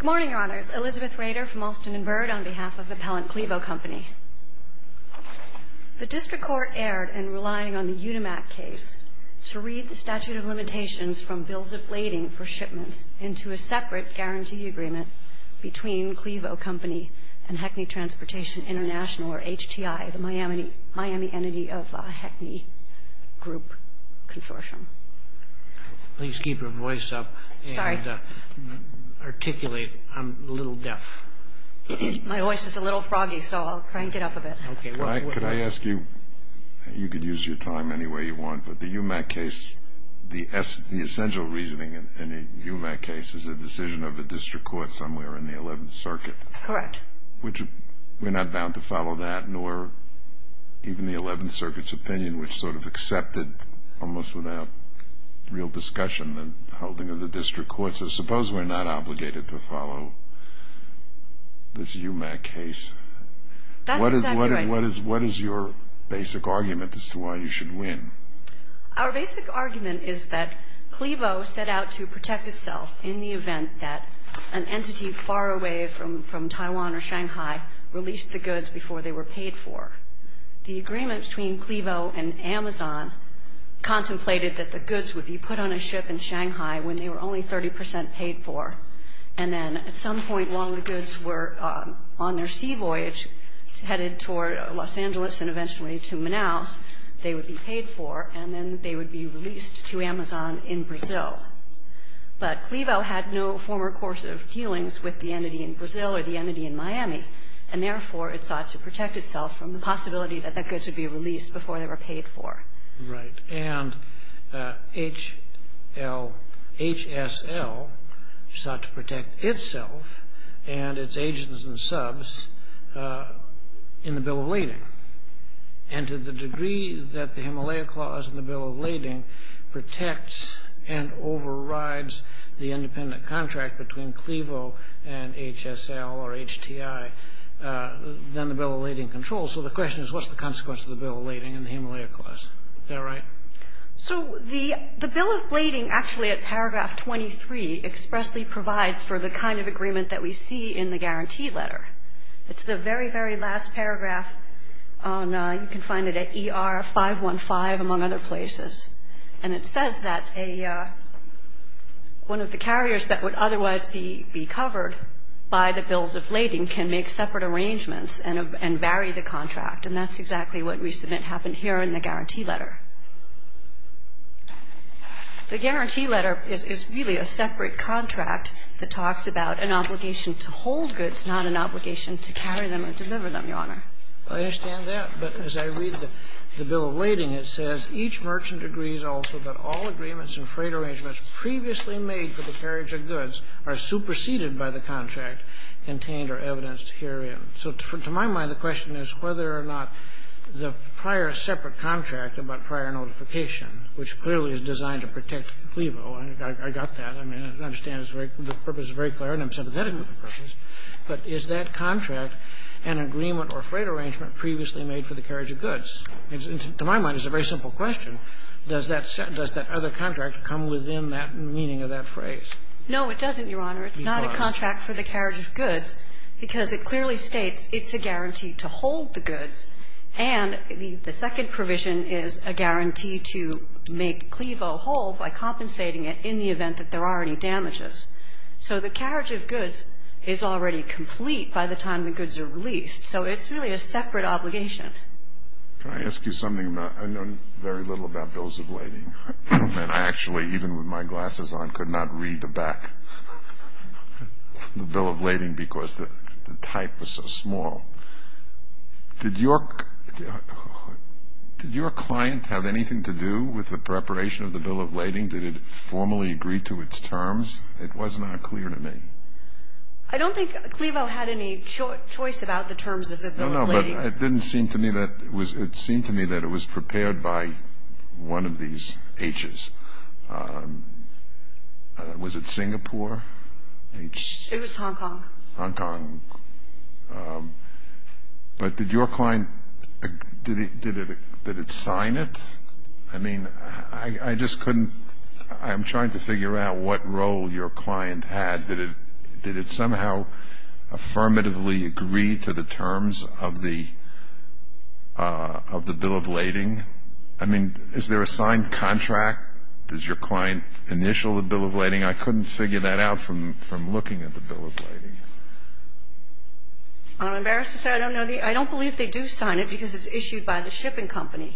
Good morning, Your Honors. Elizabeth Rader from Alston & Byrd on behalf of the appellant Clevo Company. The District Court erred in relying on the Unimac case to read the statute of limitations from bills of lading for shipments into a separate guarantee agreement between Clevo Company and Hecny Transportation International, or HTI, the Miami entity of Hecny Group Consortium. Please keep your voice up and articulate. I'm a little deaf. My voice is a little froggy, so I'll crank it up a bit. Could I ask you, you could use your time any way you want, but the Unimac case, the essential reasoning in a Unimac case is a decision of the District Court somewhere in the Eleventh Circuit. Correct. We're not bound to follow that, nor even the Eleventh Circuit's opinion, which sort of accepted almost without real discussion the holding of the District Court. So suppose we're not obligated to follow this Unimac case. That's exactly right. What is your basic argument as to why you should win? Our basic argument is that Clevo set out to protect itself in the event that an entity far away from Taiwan or Shanghai released the goods before they were paid for. The agreement between Clevo and Amazon contemplated that the goods would be put on a ship in Shanghai when they were only 30 percent paid for, and then at some point while the goods were on their sea voyage headed toward Los Angeles and eventually to Manaus, they would be paid for, and then they would be released to Amazon in Brazil. But Clevo had no former course of dealings with the entity in Brazil or the entity in Miami, and therefore it sought to protect itself from the possibility that the goods would be released before they were paid for. Right. And HSL sought to protect itself and its agents and subs in the Bill of Lading. And to the degree that the Himalaya Clause in the Bill of Lading protects and overrides the independent contract between Clevo and HSL or HTI, then the Bill of Lading controls. So the question is, what's the consequence of the Bill of Lading and the Himalaya Clause? Is that right? So the Bill of Lading actually at paragraph 23 expressly provides for the kind of agreement that we see in the guarantee letter. It's the very, very last paragraph. You can find it at ER 515, among other places. And it says that one of the carriers that would otherwise be covered by the Bills of Lading can make separate arrangements and vary the contract. And that's exactly what we submit happened here in the guarantee letter. The guarantee letter is really a separate contract that talks about an obligation to hold goods, not an obligation to carry them or deliver them, Your Honor. Well, I understand that. But as I read the Bill of Lading, it says, Each merchant agrees also that all agreements and freight arrangements previously made for the carriage of goods are superseded by the contract contained or evidenced herein. So to my mind, the question is whether or not the prior separate contract about prior notification, which clearly is designed to protect Clevo. I got that. I mean, I understand the purpose is very clear, and I'm sympathetic to the purpose. But is that contract an agreement or freight arrangement previously made for the carriage of goods? To my mind, it's a very simple question. Does that other contract come within that meaning of that phrase? No, it doesn't, Your Honor. It's not a contract for the carriage of goods because it clearly states it's a guarantee to hold the goods. And the second provision is a guarantee to make Clevo whole by compensating it in the event that there are any damages. So the carriage of goods is already complete by the time the goods are released. So it's really a separate obligation. Can I ask you something? I know very little about Bills of Lading. And I actually, even with my glasses on, could not read the back of the Bill of Lading because the type was so small. Did your client have anything to do with the preparation of the Bill of Lading? Did it formally agree to its terms? It was not clear to me. I don't think Clevo had any choice about the terms of the Bill of Lading. No, no, but it didn't seem to me that it was. It seemed to me that it was prepared by one of these H's. Was it Singapore? It was Hong Kong. Hong Kong. But did your client, did it sign it? I mean, I just couldn't. I'm trying to figure out what role your client had. Did it somehow affirmatively agree to the terms of the Bill of Lading? I mean, is there a signed contract? Does your client initial the Bill of Lading? I couldn't figure that out from looking at the Bill of Lading. I'm embarrassed to say I don't know. I don't believe they do sign it because it's issued by the shipping company.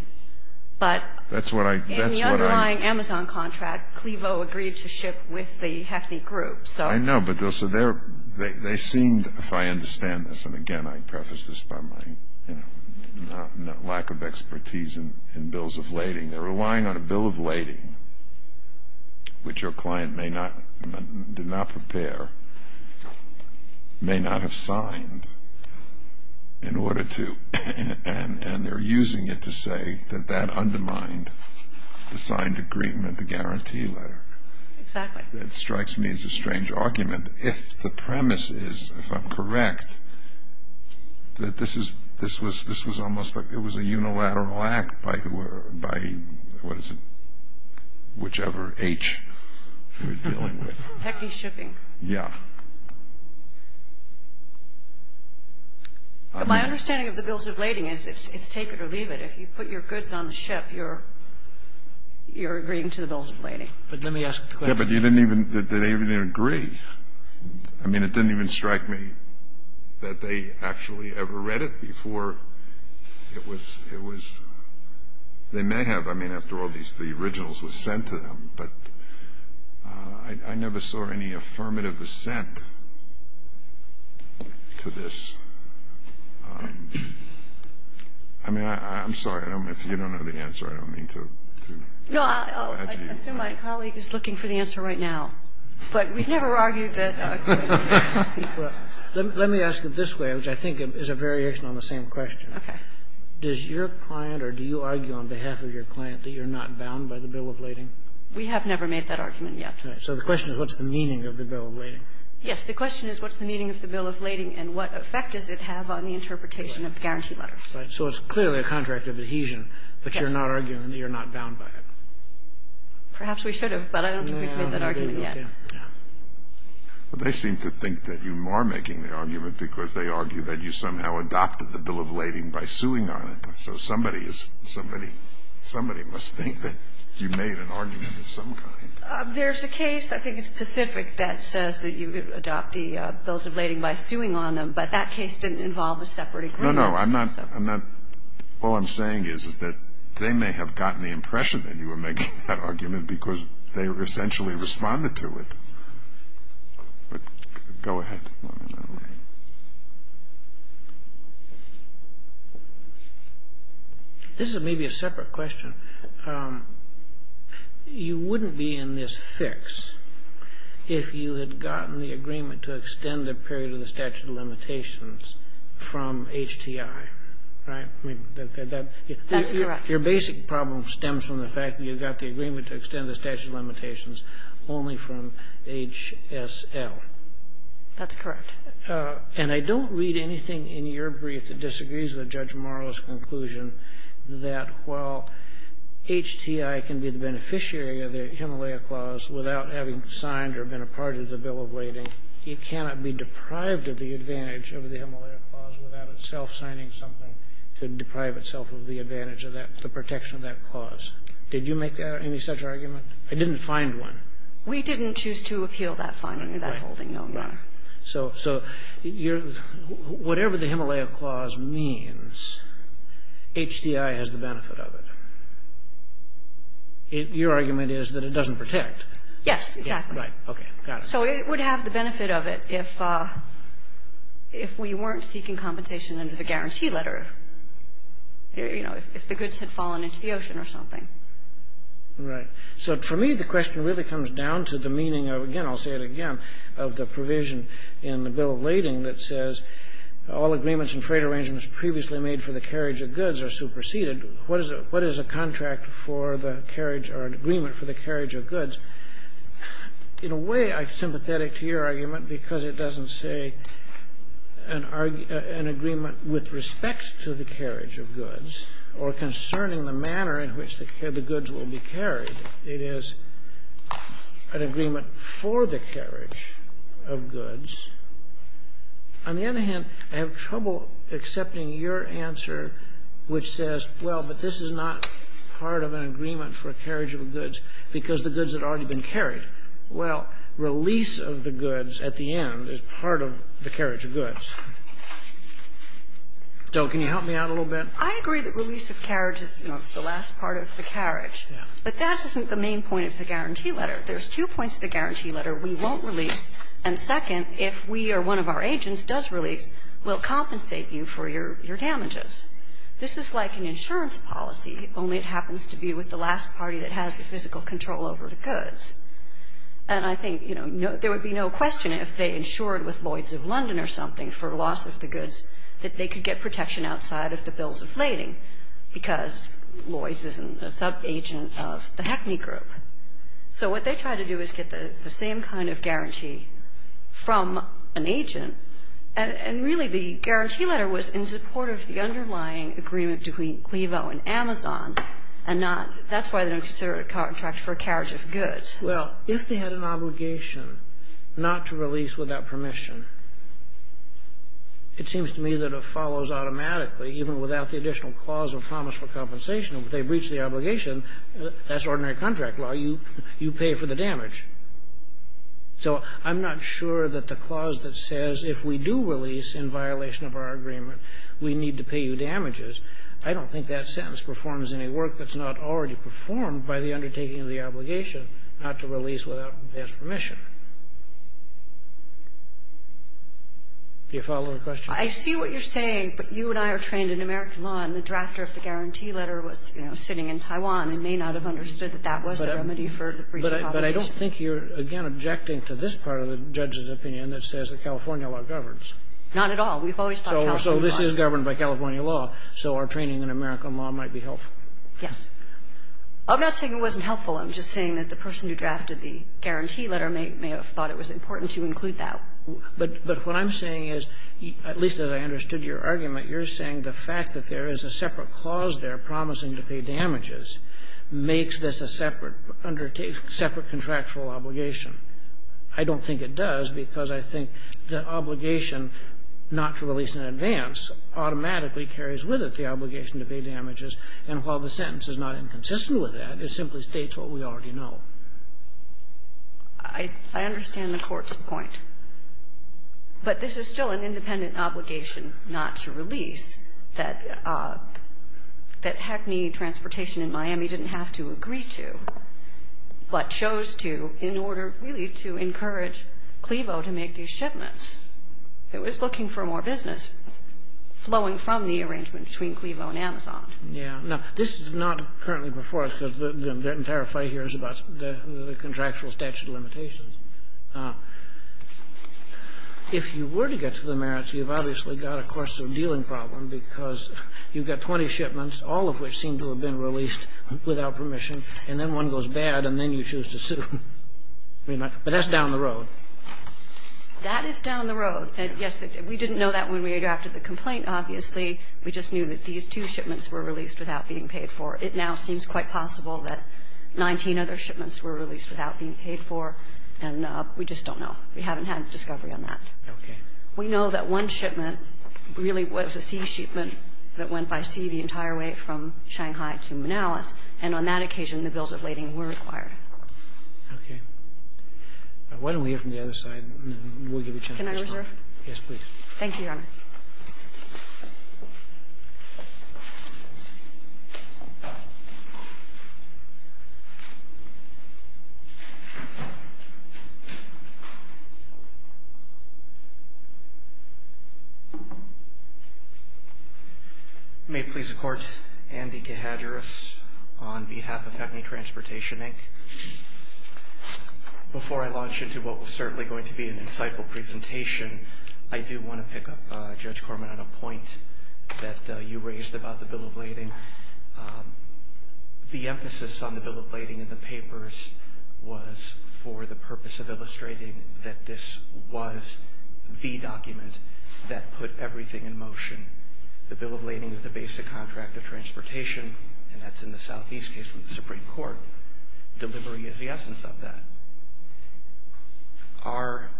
But in the underlying Amazon contract, Clevo agreed to ship with the Hackney Group. I know, but they seemed, if I understand this, and, again, I preface this by my lack of expertise in Bills of Lading, they're relying on a Bill of Lading, which your client may not, did not prepare, may not have signed in order to, and they're using it to say that that undermined the signed agreement, the guarantee letter. Exactly. That strikes me as a strange argument if the premise is, if I'm correct, that this was almost like it was a unilateral act by, what is it, whichever H we're dealing with. Hackney Shipping. Yeah. My understanding of the Bills of Lading is it's take it or leave it. If you put your goods on the ship, you're agreeing to the Bills of Lading. But let me ask the question. Yeah, but you didn't even, they didn't even agree. I mean, it didn't even strike me that they actually ever read it before it was, it was, they may have. I mean, after all, these, the originals were sent to them. But I never saw any affirmative assent to this. I mean, I'm sorry. I don't know if you don't know the answer. I don't mean to. No, I'll assume my colleague is looking for the answer right now. But we've never argued that. Let me ask it this way, which I think is a variation on the same question. Okay. Does your client or do you argue on behalf of your client that you're not bound by the Bill of Lading? We have never made that argument yet. So the question is what's the meaning of the Bill of Lading? Yes. The question is what's the meaning of the Bill of Lading and what effect does it have on the interpretation of the guarantee letter? So it's clearly a contract of adhesion. Yes. But you're not arguing that you're not bound by it. Perhaps we should have, but I don't think we've made that argument yet. No, no, no. They seem to think that you are making the argument because they argue that you somehow adopted the Bill of Lading by suing on it. So somebody is, somebody must think that you made an argument of some kind. There's a case, I think it's Pacific, that says that you adopted the Bills of Lading by suing on them, but that case didn't involve a separate agreement. No, no. I'm not, I'm not. All I'm saying is, is that they may have gotten the impression that you were making that argument because they essentially responded to it. Go ahead. This may be a separate question. You wouldn't be in this fix if you had gotten the agreement to extend the period of the statute of limitations from HTI, right? That's correct. Your basic problem stems from the fact that you got the agreement to extend the statute of limitations only from HSL. That's correct. And I don't read anything in your brief that disagrees with Judge Morrow's conclusion that while HTI can be the beneficiary of the Himalaya Clause without having signed or been a part of the Bill of Lading, it cannot be deprived of the advantage of the Himalaya Clause without itself signing something to deprive itself of the advantage of that, the protection of that clause. Did you make any such argument? I didn't find one. We didn't choose to appeal that finding, that holding, no matter. Right. So whatever the Himalaya Clause means, HTI has the benefit of it. Your argument is that it doesn't protect. Yes, exactly. Right. Okay. Got it. So it would have the benefit of it if we weren't seeking compensation under the guarantee letter, you know, if the goods had fallen into the ocean or something. Right. So for me, the question really comes down to the meaning of, again, I'll say it again, of the provision in the Bill of Lading that says all agreements and trade arrangements previously made for the carriage of goods are superseded. What is a contract for the carriage or an agreement for the carriage of goods? In a way, I'm sympathetic to your argument because it doesn't say an agreement with respect to the carriage of goods or concerning the manner in which the goods will be carried. It is an agreement for the carriage of goods. On the other hand, I have trouble accepting your answer which says, well, but this is not part of an agreement for a carriage of goods because the goods had already been carried. Well, release of the goods at the end is part of the carriage of goods. So can you help me out a little bit? I agree that release of carriage is, you know, the last part of the carriage. Yeah. But that isn't the main point of the guarantee letter. There's two points of the guarantee letter. We won't release, and second, if we or one of our agents does release, we'll compensate you for your damages. This is like an insurance policy, only it happens to be with the last party that has the physical control over the goods. And I think, you know, there would be no question if they insured with Lloyd's of London or something for loss of the goods that they could get protection outside of the bills of lading because Lloyd's isn't a subagent of the Hackney Group. So what they tried to do is get the same kind of guarantee from an agent, and really the guarantee letter was in support of the underlying agreement between Clevo and Amazon and not – that's why they don't consider it a contract for a carriage of goods. Well, if they had an obligation not to release without permission, it seems to me that it follows automatically, even without the additional clause of promise for compensation. If they breach the obligation, that's ordinary contract law. You pay for the damage. So I'm not sure that the clause that says if we do release in violation of our agreement, we need to pay you damages. I don't think that sentence performs any work that's not already performed by the undertaking of the obligation not to release without past permission. Do you follow the question? I see what you're saying, but you and I are trained in American law, and the drafter of the guarantee letter was, you know, sitting in Taiwan and may not have understood that that was the remedy for the breach of obligation. But I don't think you're, again, objecting to this part of the judge's opinion that says that California law governs. Not at all. We've always thought California law. So this is governed by California law, so our training in American law might be helpful. Yes. I'm not saying it wasn't helpful. I'm just saying that the person who drafted the guarantee letter may have thought it was important to include that. But what I'm saying is, at least as I understood your argument, you're saying the fact that there is a separate clause there promising to pay damages makes this a separate undertaking, separate contractual obligation. I don't think it does, because I think the obligation not to release in advance automatically carries with it the obligation to pay damages. And while the sentence is not inconsistent with that, it simply states what we already know. I understand the Court's point. But this is still an independent obligation not to release that Hackney Transportation in Miami didn't have to agree to, but chose to in order really to encourage Clevo to make these shipments. It was looking for more business flowing from the arrangement between Clevo and Amazon. Yeah. Now, this is not currently before us, because the entire fight here is about the contractual statute of limitations. If you were to get to the merits, you've obviously got a course of dealing problem, because you've got 20 shipments, all of which seem to have been released without permission, and then one goes bad, and then you choose to sue. But that's down the road. That is down the road. Yes, we didn't know that when we drafted the complaint, obviously. We just knew that these two shipments were released without being paid for. It now seems quite possible that 19 other shipments were released without being paid for, and we just don't know. We haven't had discovery on that. Okay. We know that one shipment really was a sea shipment that went by sea the entire way from Shanghai to Manalis, and on that occasion the bills of lading were required. Okay. Why don't we hear from the other side, and then we'll give you a chance to respond. Can I reserve? Yes, please. Thank you, Your Honor. May it please the Court. Andy Cahadris on behalf of Hackney Transportation, Inc. Before I launch into what was certainly going to be an insightful presentation, I do want to pick up, Judge Corman, on a point that you raised about the bill of lading. The emphasis on the bill of lading in the papers was for the purpose of illustrating that this was the document that put everything in motion. The bill of lading is the basic contract of transportation, and that's in the Southeast case with the Supreme Court. Delivery is the essence of that. Our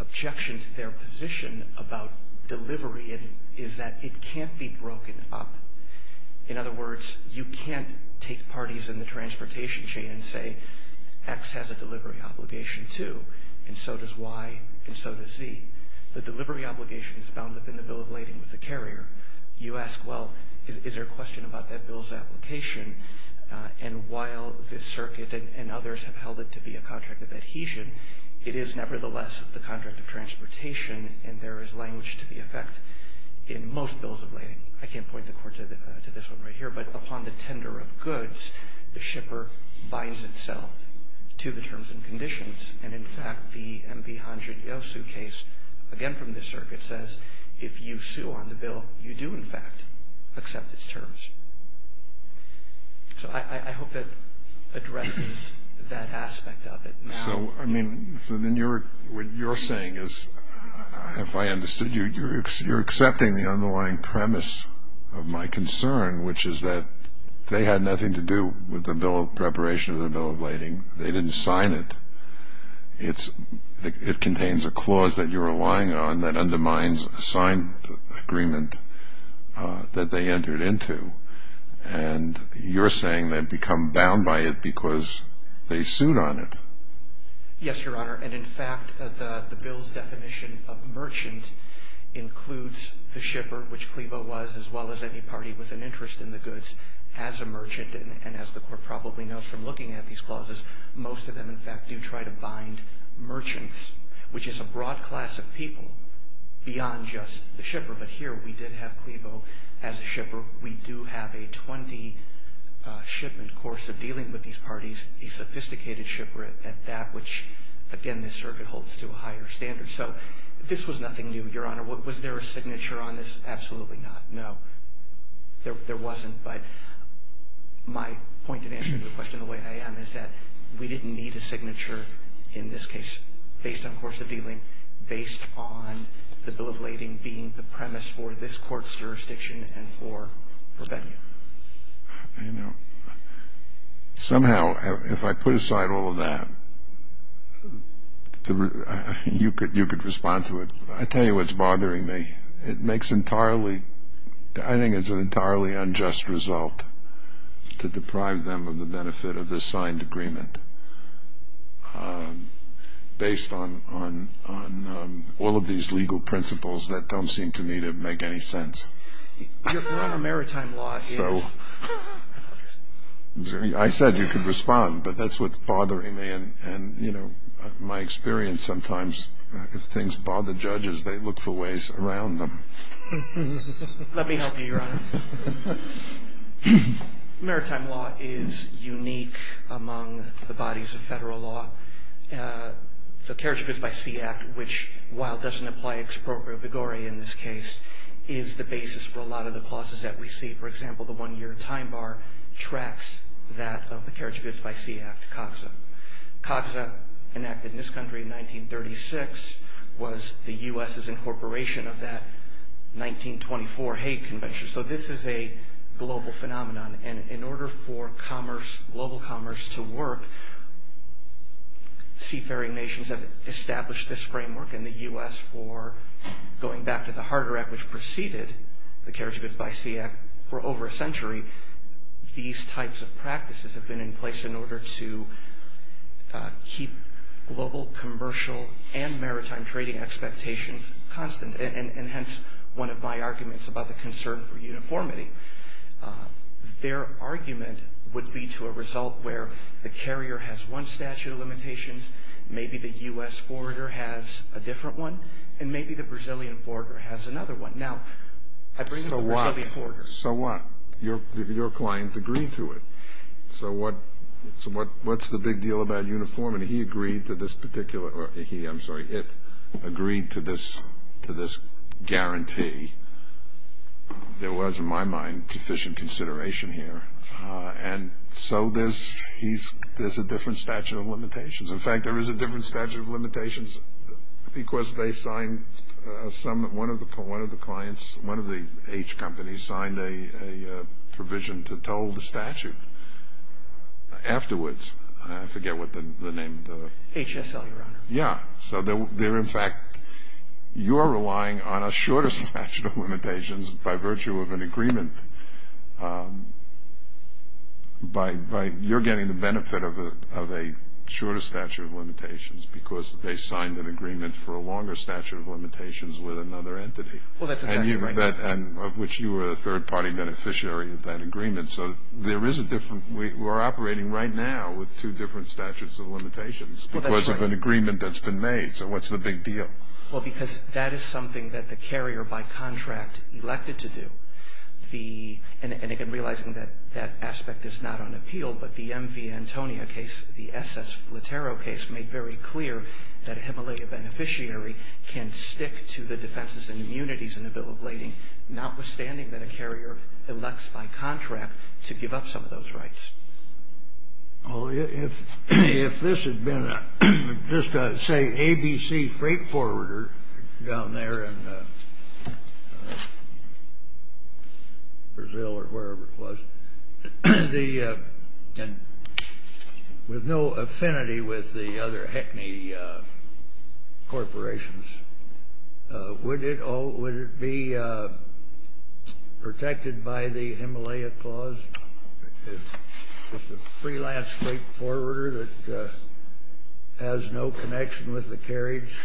objection to their position about delivery is that it can't be broken up. In other words, you can't take parties in the transportation chain and say X has a and so does Y and so does Z. The delivery obligation is bound up in the bill of lading with the carrier. You ask, well, is there a question about that bill's application? And while the circuit and others have held it to be a contract of adhesion, it is nevertheless the contract of transportation, and there is language to the effect in most bills of lading. I can't point the Court to this one right here, but upon the tender of goods, the shipper binds itself to the terms and conditions. And, in fact, the M.P. Honjo-Yosu case, again from the circuit, says if you sue on the bill, you do, in fact, accept its terms. So I hope that addresses that aspect of it. So, I mean, what you're saying is, if I understood you, you're accepting the underlying premise of my concern, which is that they had nothing to do with the bill of preparation of the It contains a clause that you're relying on that undermines a signed agreement that they entered into. And you're saying they've become bound by it because they sued on it. Yes, Your Honor. And, in fact, the bill's definition of merchant includes the shipper, which Clevo was, as well as any party with an interest in the goods, as a merchant. And as the Court probably knows from looking at these clauses, most of them, in fact, do try to bind merchants, which is a broad class of people, beyond just the shipper. But here we did have Clevo as a shipper. We do have a 20-shipment course of dealing with these parties, a sophisticated shipper at that, which, again, this circuit holds to a higher standard. So this was nothing new, Your Honor. Was there a signature on this? Absolutely not. No, there wasn't. But my point in answering the question the way I am is that we didn't need a signature in this case based on course of dealing, based on the bill of lading being the premise for this Court's jurisdiction and for revenue. You know, somehow, if I put aside all of that, you could respond to it. I'll tell you what's bothering me. It makes entirely, I think it's an entirely unjust result to deprive them of the benefit of this signed agreement based on all of these legal principles that don't seem to me to make any sense. Your Honor, maritime law is... I said you could respond, but that's what's bothering me. And, you know, my experience sometimes, if things bother judges, they look for ways around them. Let me help you, Your Honor. Maritime law is unique among the bodies of federal law. The Carriage Goods by Sea Act, which, while it doesn't apply expropriatory in this case, is the basis for a lot of the clauses that we see. For example, the one-year time bar tracks that of the Carriage Goods by Sea Act, CAGSA. CAGSA enacted in this country in 1936 was the U.S.'s incorporation of that 1924 Hague Convention. So this is a global phenomenon. And in order for commerce, global commerce, to work, seafaring nations have established this framework in the U.S. for going back to the Harder Act, which preceded the Carriage Goods by Sea Act, for over a century. These types of practices have been in place in order to keep global commercial and maritime trading expectations constant. And hence, one of my arguments about the concern for uniformity. Their argument would lead to a result where the carrier has one statute of limitations, maybe the U.S. forwarder has a different one, and maybe the Brazilian forwarder has another one. Now, I bring up the Brazilian forwarder. So what? Your client agreed to it. So what's the big deal about uniformity? He agreed to this particular, or he, I'm sorry, it agreed to this guarantee. There was, in my mind, deficient consideration here. And so there's a different statute of limitations. In fact, there is a different statute of limitations because they signed some, one of the clients, one of the H companies signed a provision to total the statute afterwards. I forget what the name of the. HSL, Your Honor. Yeah. So they're, in fact, you're relying on a shorter statute of limitations by virtue of an agreement. You're getting the benefit of a shorter statute of limitations because they signed an agreement for a longer statute of limitations with another entity. Well, that's exactly right. Of which you were a third-party beneficiary of that agreement. So there is a different, we're operating right now with two different statutes of limitations because of an agreement that's been made. So what's the big deal? Well, because that is something that the carrier by contract elected to do. And again, realizing that that aspect is not on appeal. But the MV Antonia case, the SS Flatero case, made very clear that a Himalaya beneficiary can stick to the defenses and immunities in a bill of lading, notwithstanding that a carrier elects by contract to give up some of those rights. Well, if this had been just, say, ABC Freight Forwarder down there in Brazil or wherever it was, and with no affinity with the other HECME corporations, would it be protected by the Himalaya Clause? Just a freelance freight forwarder that has no connection with the carriage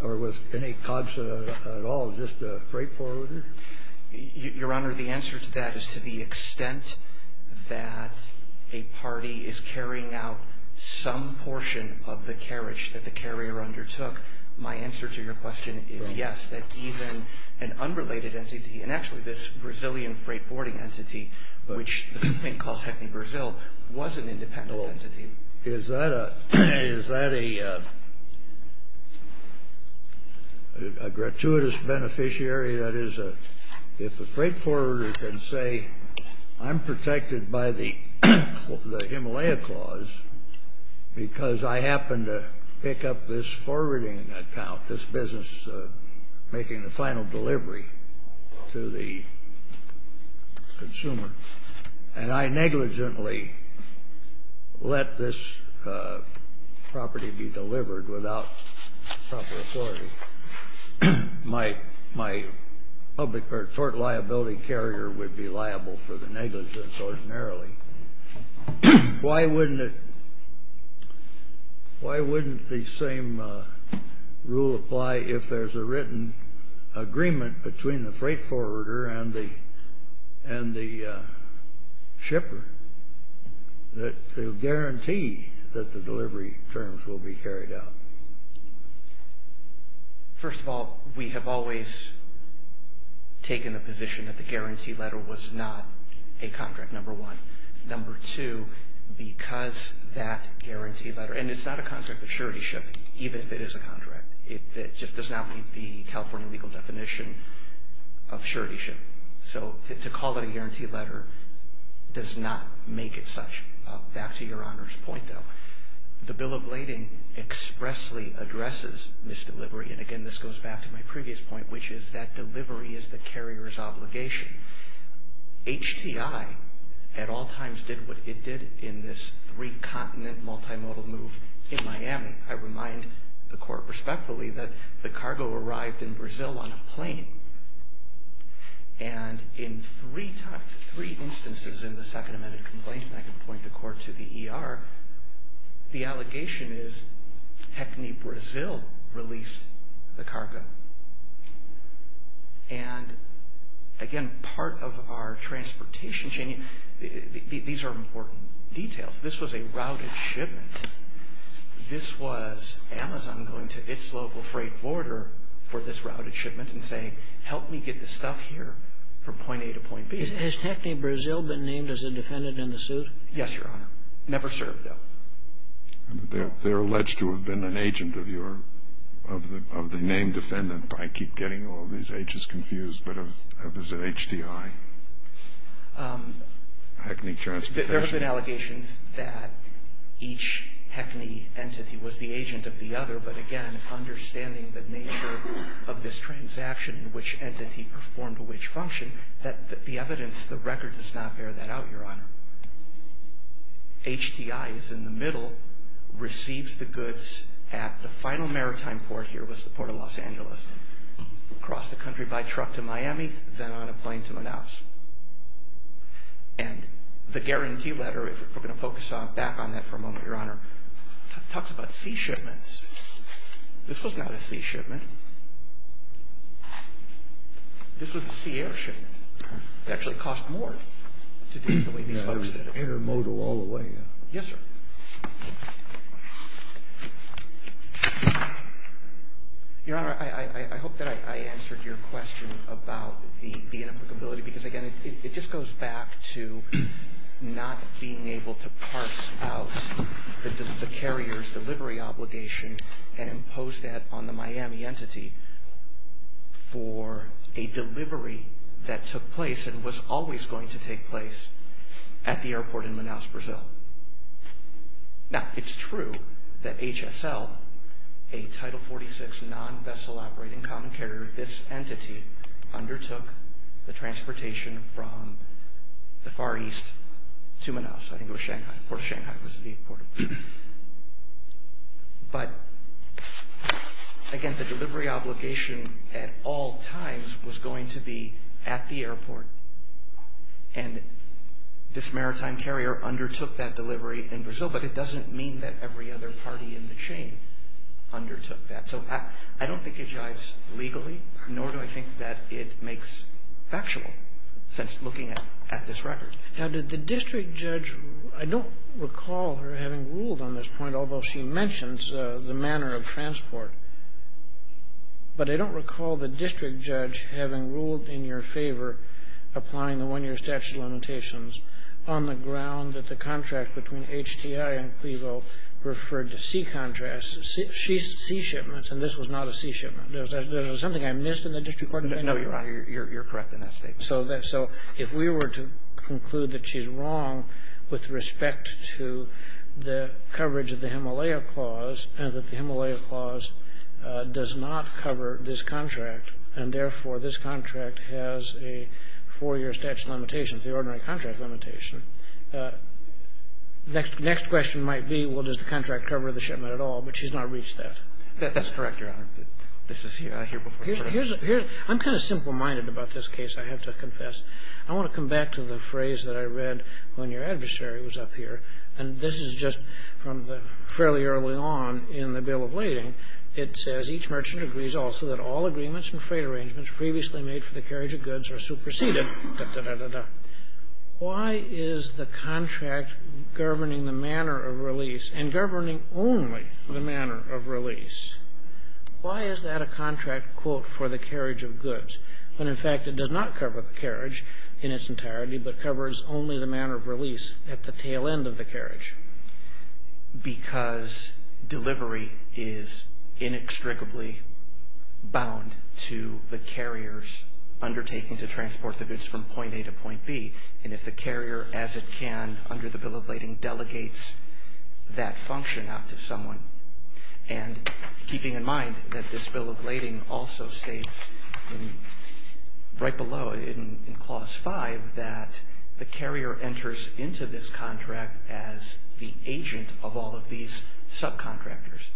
or with any COBSA at all, just a freight forwarder? Your Honor, the answer to that is to the extent that a party is carrying out some portion of the carriage that the carrier undertook. My answer to your question is yes, that even an unrelated entity, and actually this Brazilian freight forwarding entity, which the complaint calls HECME Brazil, was an independent entity. Is that a gratuitous beneficiary? That is, if a freight forwarder can say, I'm protected by the Himalaya Clause because I happened to pick up this forwarding account, this business making the final delivery to the consumer, and I negligently let this property be delivered without proper authority, my public or tort liability carrier would be liable for the negligence ordinarily. Why wouldn't the same rule apply if there's a written agreement between the freight forwarder and the shipper that will guarantee that the delivery terms will be carried out? First of all, we have always taken the position that the guarantee letter was not a contract, number one. Number two, because that guarantee letter, and it's not a contract of suretyship, even if it is a contract, it just does not meet the California legal definition of suretyship. So to call it a guarantee letter does not make it such. Back to Your Honor's point, though. The Bill of Lading expressly addresses misdelivery, and again, this goes back to my previous point, which is that delivery is the carrier's obligation. HTI at all times did what it did in this three-continent, multimodal move in Miami. I remind the Court respectfully that the cargo arrived in Brazil on a plane, and in three instances in the second amended complaint, and I can point the Court to the ER, the allegation is HECNE Brazil released the cargo. And again, part of our transportation chain, these are important details. This was a routed shipment. This was Amazon going to its local freight forwarder for this routed shipment and saying, help me get this stuff here from point A to point B. Has HECNE Brazil been named as a defendant in the suit? Yes, Your Honor. Never served, though. They're alleged to have been an agent of the named defendant. I keep getting all these H's confused, but is it HDI? HECNE Transportation. There have been allegations that each HECNE entity was the agent of the other, but again, understanding the nature of this transaction and which entity performed which function, the evidence, the record does not bear that out, Your Honor. HDI is in the middle, receives the goods at the final maritime port here, was the port of Los Angeles, across the country by truck to Miami, then on a plane to Manaus. And the guarantee letter, if we're going to focus back on that for a moment, Your Honor, talks about sea shipments. This was not a sea shipment. This was a sea air shipment. It actually cost more to do it the way these folks did it. Intermodal all the way. Yes, sir. Your Honor, I hope that I answered your question about the inapplicability, because, again, it just goes back to not being able to parse out the carrier's delivery obligation and impose that on the Miami entity for a delivery that took place and was always going to take place at the airport in Manaus, Brazil. Now, it's true that HSL, a Title 46 non-vessel operating common carrier, this entity undertook the transportation from the Far East to Manaus. I think it was Shanghai. Port of Shanghai was the port. But, again, the delivery obligation at all times was going to be at the airport, and this maritime carrier undertook that delivery in Brazil, but it doesn't mean that every other party in the chain undertook that. So I don't think it jives legally, nor do I think that it makes factual sense looking at this record. Now, did the district judge, I don't recall her having ruled on this point, although she mentions the manner of transport, but I don't recall the district judge having ruled in your favor applying the one-year statute of limitations on the ground that the contract between HTI and Clevo referred to sea shipments, and this was not a sea shipment. There was something I missed in the district court. No, Your Honor, you're correct in that statement. So if we were to conclude that she's wrong with respect to the coverage of the Himalaya Clause and that the Himalaya Clause does not cover this contract, and therefore this contract has a four-year statute of limitations, the ordinary contract limitation. The next question might be, well, does the contract cover the shipment at all? But she's not reached that. That's correct, Your Honor. This is here before court. I'm kind of simple-minded about this case, I have to confess. I want to come back to the phrase that I read when your adversary was up here, and this is just from fairly early on in the Bill of Lading. It says, Each merchant agrees also that all agreements and freight arrangements previously made for the carriage of goods are superseded. Why is the contract governing the manner of release and governing only the manner of release? Why is that a contract, quote, for the carriage of goods, when in fact it does not cover the carriage in its entirety but covers only the manner of release at the tail end of the carriage? Because delivery is inextricably bound to the carrier's undertaking to transport the goods from point A to point B, and if the carrier, as it can under the Bill of Lading, delegates that function out to someone, and keeping in mind that this Bill of Lading also states right below in Clause 5 that the carrier enters into this contract as the agent of all of these subcontractors.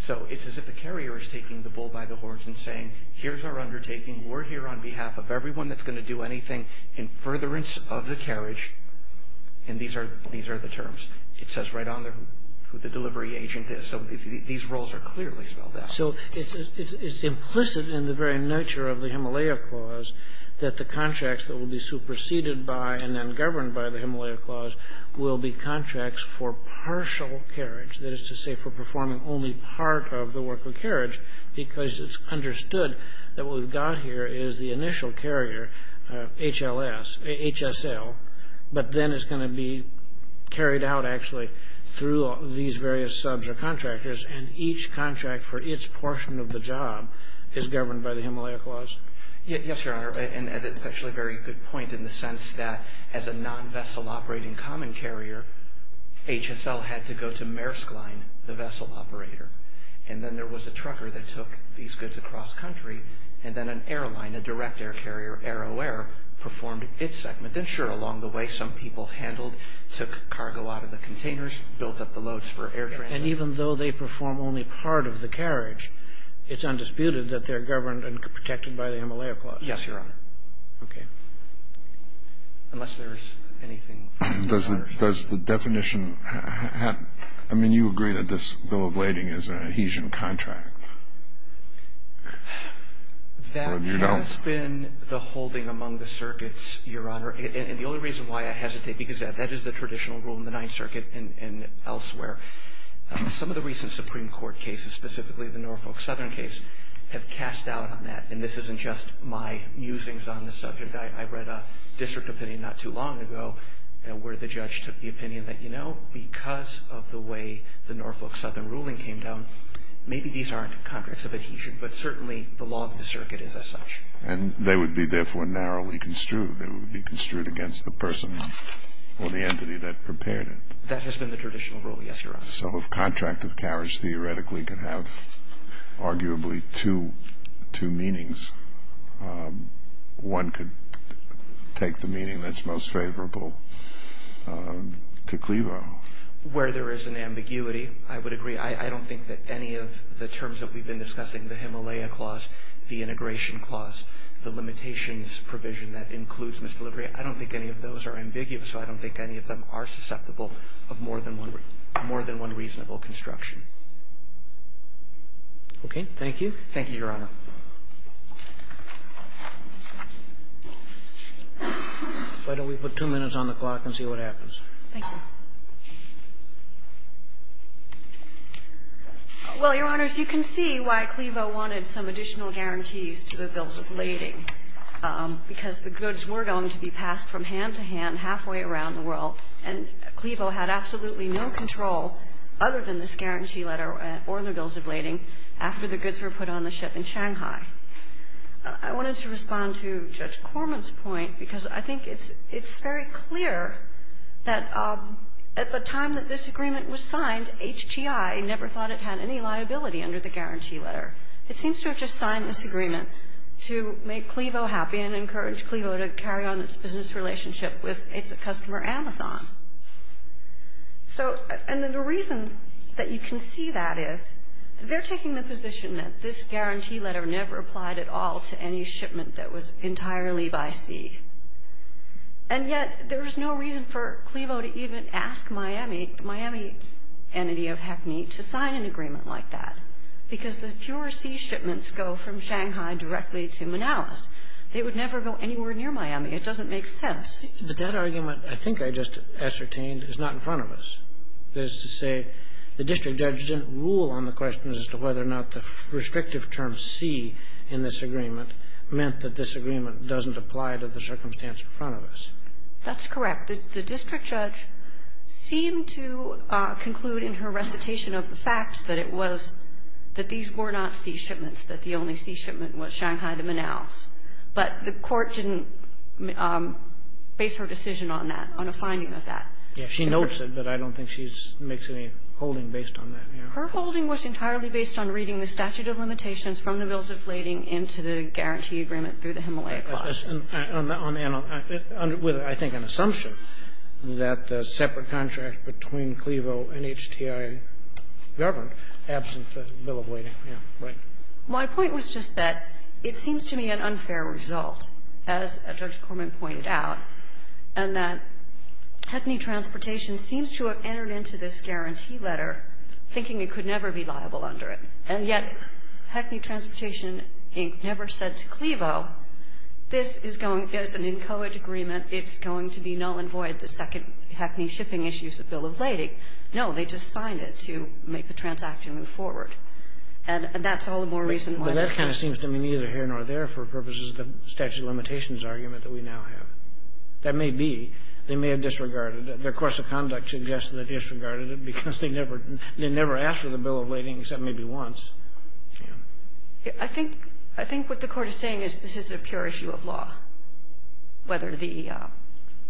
So it's as if the carrier is taking the bull by the horns and saying, Here's our undertaking. We're here on behalf of everyone that's going to do anything in furtherance of the carriage. And these are the terms. It says right on there who the delivery agent is. So these roles are clearly spelled out. So it's implicit in the very nature of the Himalaya Clause that the contracts that will be superseded by and then governed by the Himalaya Clause will be contracts for partial carriage, that is to say for performing only part of the work of carriage, because it's understood that what we've got here is the initial carrier, HLS, HSL, but then it's going to be carried out, actually, through these various subs or contractors, and each contract for its portion of the job is governed by the Himalaya Clause. Yes, Your Honor, and it's actually a very good point in the sense that as a non-vessel operating common carrier, HSL had to go to Maersk Line, the vessel operator, and then there was a trucker that took these goods across country, and then an airline, a direct air carrier, AeroAir, performed its segment. And sure, along the way, some people handled, took cargo out of the containers, built up the loads for air transport. And even though they perform only part of the carriage, it's undisputed that they're governed and protected by the Himalaya Clause. Yes, Your Honor. Okay. Unless there's anything further. Does the definition have – I mean, you agree that this bill of lading is an adhesion contract. That has been the holding among the circuits, Your Honor. And the only reason why I hesitate, because that is the traditional rule in the Ninth Circuit and elsewhere. Some of the recent Supreme Court cases, specifically the Norfolk Southern case, have cast doubt on that. And this isn't just my musings on the subject. I read a district opinion not too long ago where the judge took the opinion that, you know, because of the way the Norfolk Southern ruling came down, maybe these aren't contracts of adhesion, but certainly the law of the circuit is as such. And they would be, therefore, narrowly construed. They would be construed against the person or the entity that prepared it. That has been the traditional rule. Yes, Your Honor. So if contract of carriage theoretically can have arguably two meanings, one could take the meaning that's most favorable to Clevo. Where there is an ambiguity, I would agree. I don't think that any of the terms that we've been discussing, the Himalaya Clause, the Integration Clause, the limitations provision that includes misdelivery, I don't think any of those are ambiguous, so I don't think any of them are susceptible of more than one reasonable construction. Okay. Thank you. Thank you, Your Honor. Why don't we put two minutes on the clock and see what happens. Thank you. Well, Your Honors, you can see why Clevo wanted some additional guarantees to the bills of lading, because the goods were going to be passed from hand to hand halfway around the world. And Clevo had absolutely no control other than this guarantee letter or the bills of lading after the goods were put on the ship in Shanghai. I wanted to respond to Judge Corman's point, because I think it's very clear that at the time that this agreement was signed, HGI never thought it had any liability under the guarantee letter. It seems to have just signed this agreement to make Clevo happy and encourage Clevo to carry on its business relationship with its customer, Amazon. And the reason that you can see that is they're taking the position that this guarantee letter never applied at all to any shipment that was entirely by sea. And yet there was no reason for Clevo to even ask Miami, the Miami entity of HECME, to sign an agreement like that, because the pure sea shipments go from Shanghai directly to Manalis. They would never go anywhere near Miami. It doesn't make sense. But that argument, I think I just ascertained, is not in front of us. That is to say, the district judge didn't rule on the question as to whether or not the restrictive term sea in this agreement meant that this agreement doesn't apply to the circumstance in front of us. That's correct. The district judge seemed to conclude in her recitation of the facts that it was that these were not sea shipments, that the only sea shipment was Shanghai to Manalis. But the court didn't base her decision on that, on a finding of that. Yeah. She notes it, but I don't think she makes any holding based on that. Her holding was entirely based on reading the statute of limitations from the bills of lading into the guarantee agreement through the Himalayan process. And with, I think, an assumption that the separate contract between Clevo and HTI governed, absent the bill of lading. Yeah. Right. My point was just that it seems to me an unfair result, as Judge Corman pointed out, and that Hackney Transportation seems to have entered into this guarantee letter thinking it could never be liable under it. And yet, Hackney Transportation, Inc. never said to Clevo, this is going, as an inchoate agreement, it's going to be null and void, the second Hackney shipping issue is the bill of lading. No. They just signed it to make the transaction move forward. And that's all the more reason why this kind of seems to me neither here nor there for purposes of the statute of limitations argument that we now have. That may be. They may have disregarded it. Their course of conduct suggests that they disregarded it because they never asked for the bill of lading, except maybe once. Yeah. I think what the Court is saying is this is a pure issue of law, whether the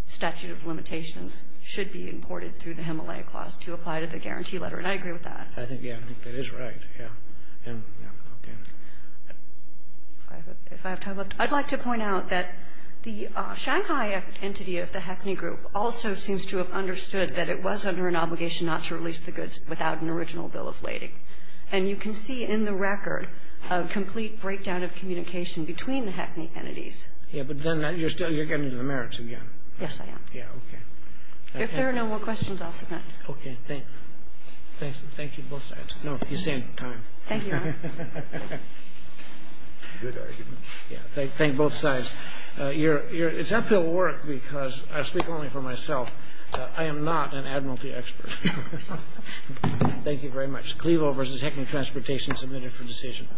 statute of limitations should be imported through the Himalaya clause to apply to the guarantee letter. And I agree with that. I think, yeah, I think that is right. Yeah. Yeah. Okay. If I have time left, I'd like to point out that the Shanghai entity of the Hackney group also seems to have understood that it was under an obligation not to release the goods without an original bill of lading. And you can see in the record a complete breakdown of communication between the Hackney entities. Yeah. But then you're getting to the merits again. Yes, I am. Yeah. Okay. If there are no more questions, I'll submit. Okay. Thanks. Thank you both sides. No. He's saying time. Thank you. Good argument. Yeah. Thank both sides. It's up to the work because I speak only for myself. I am not an admiralty expert. Thank you very much. Clevel versus Hackney Transportation submitted for decision.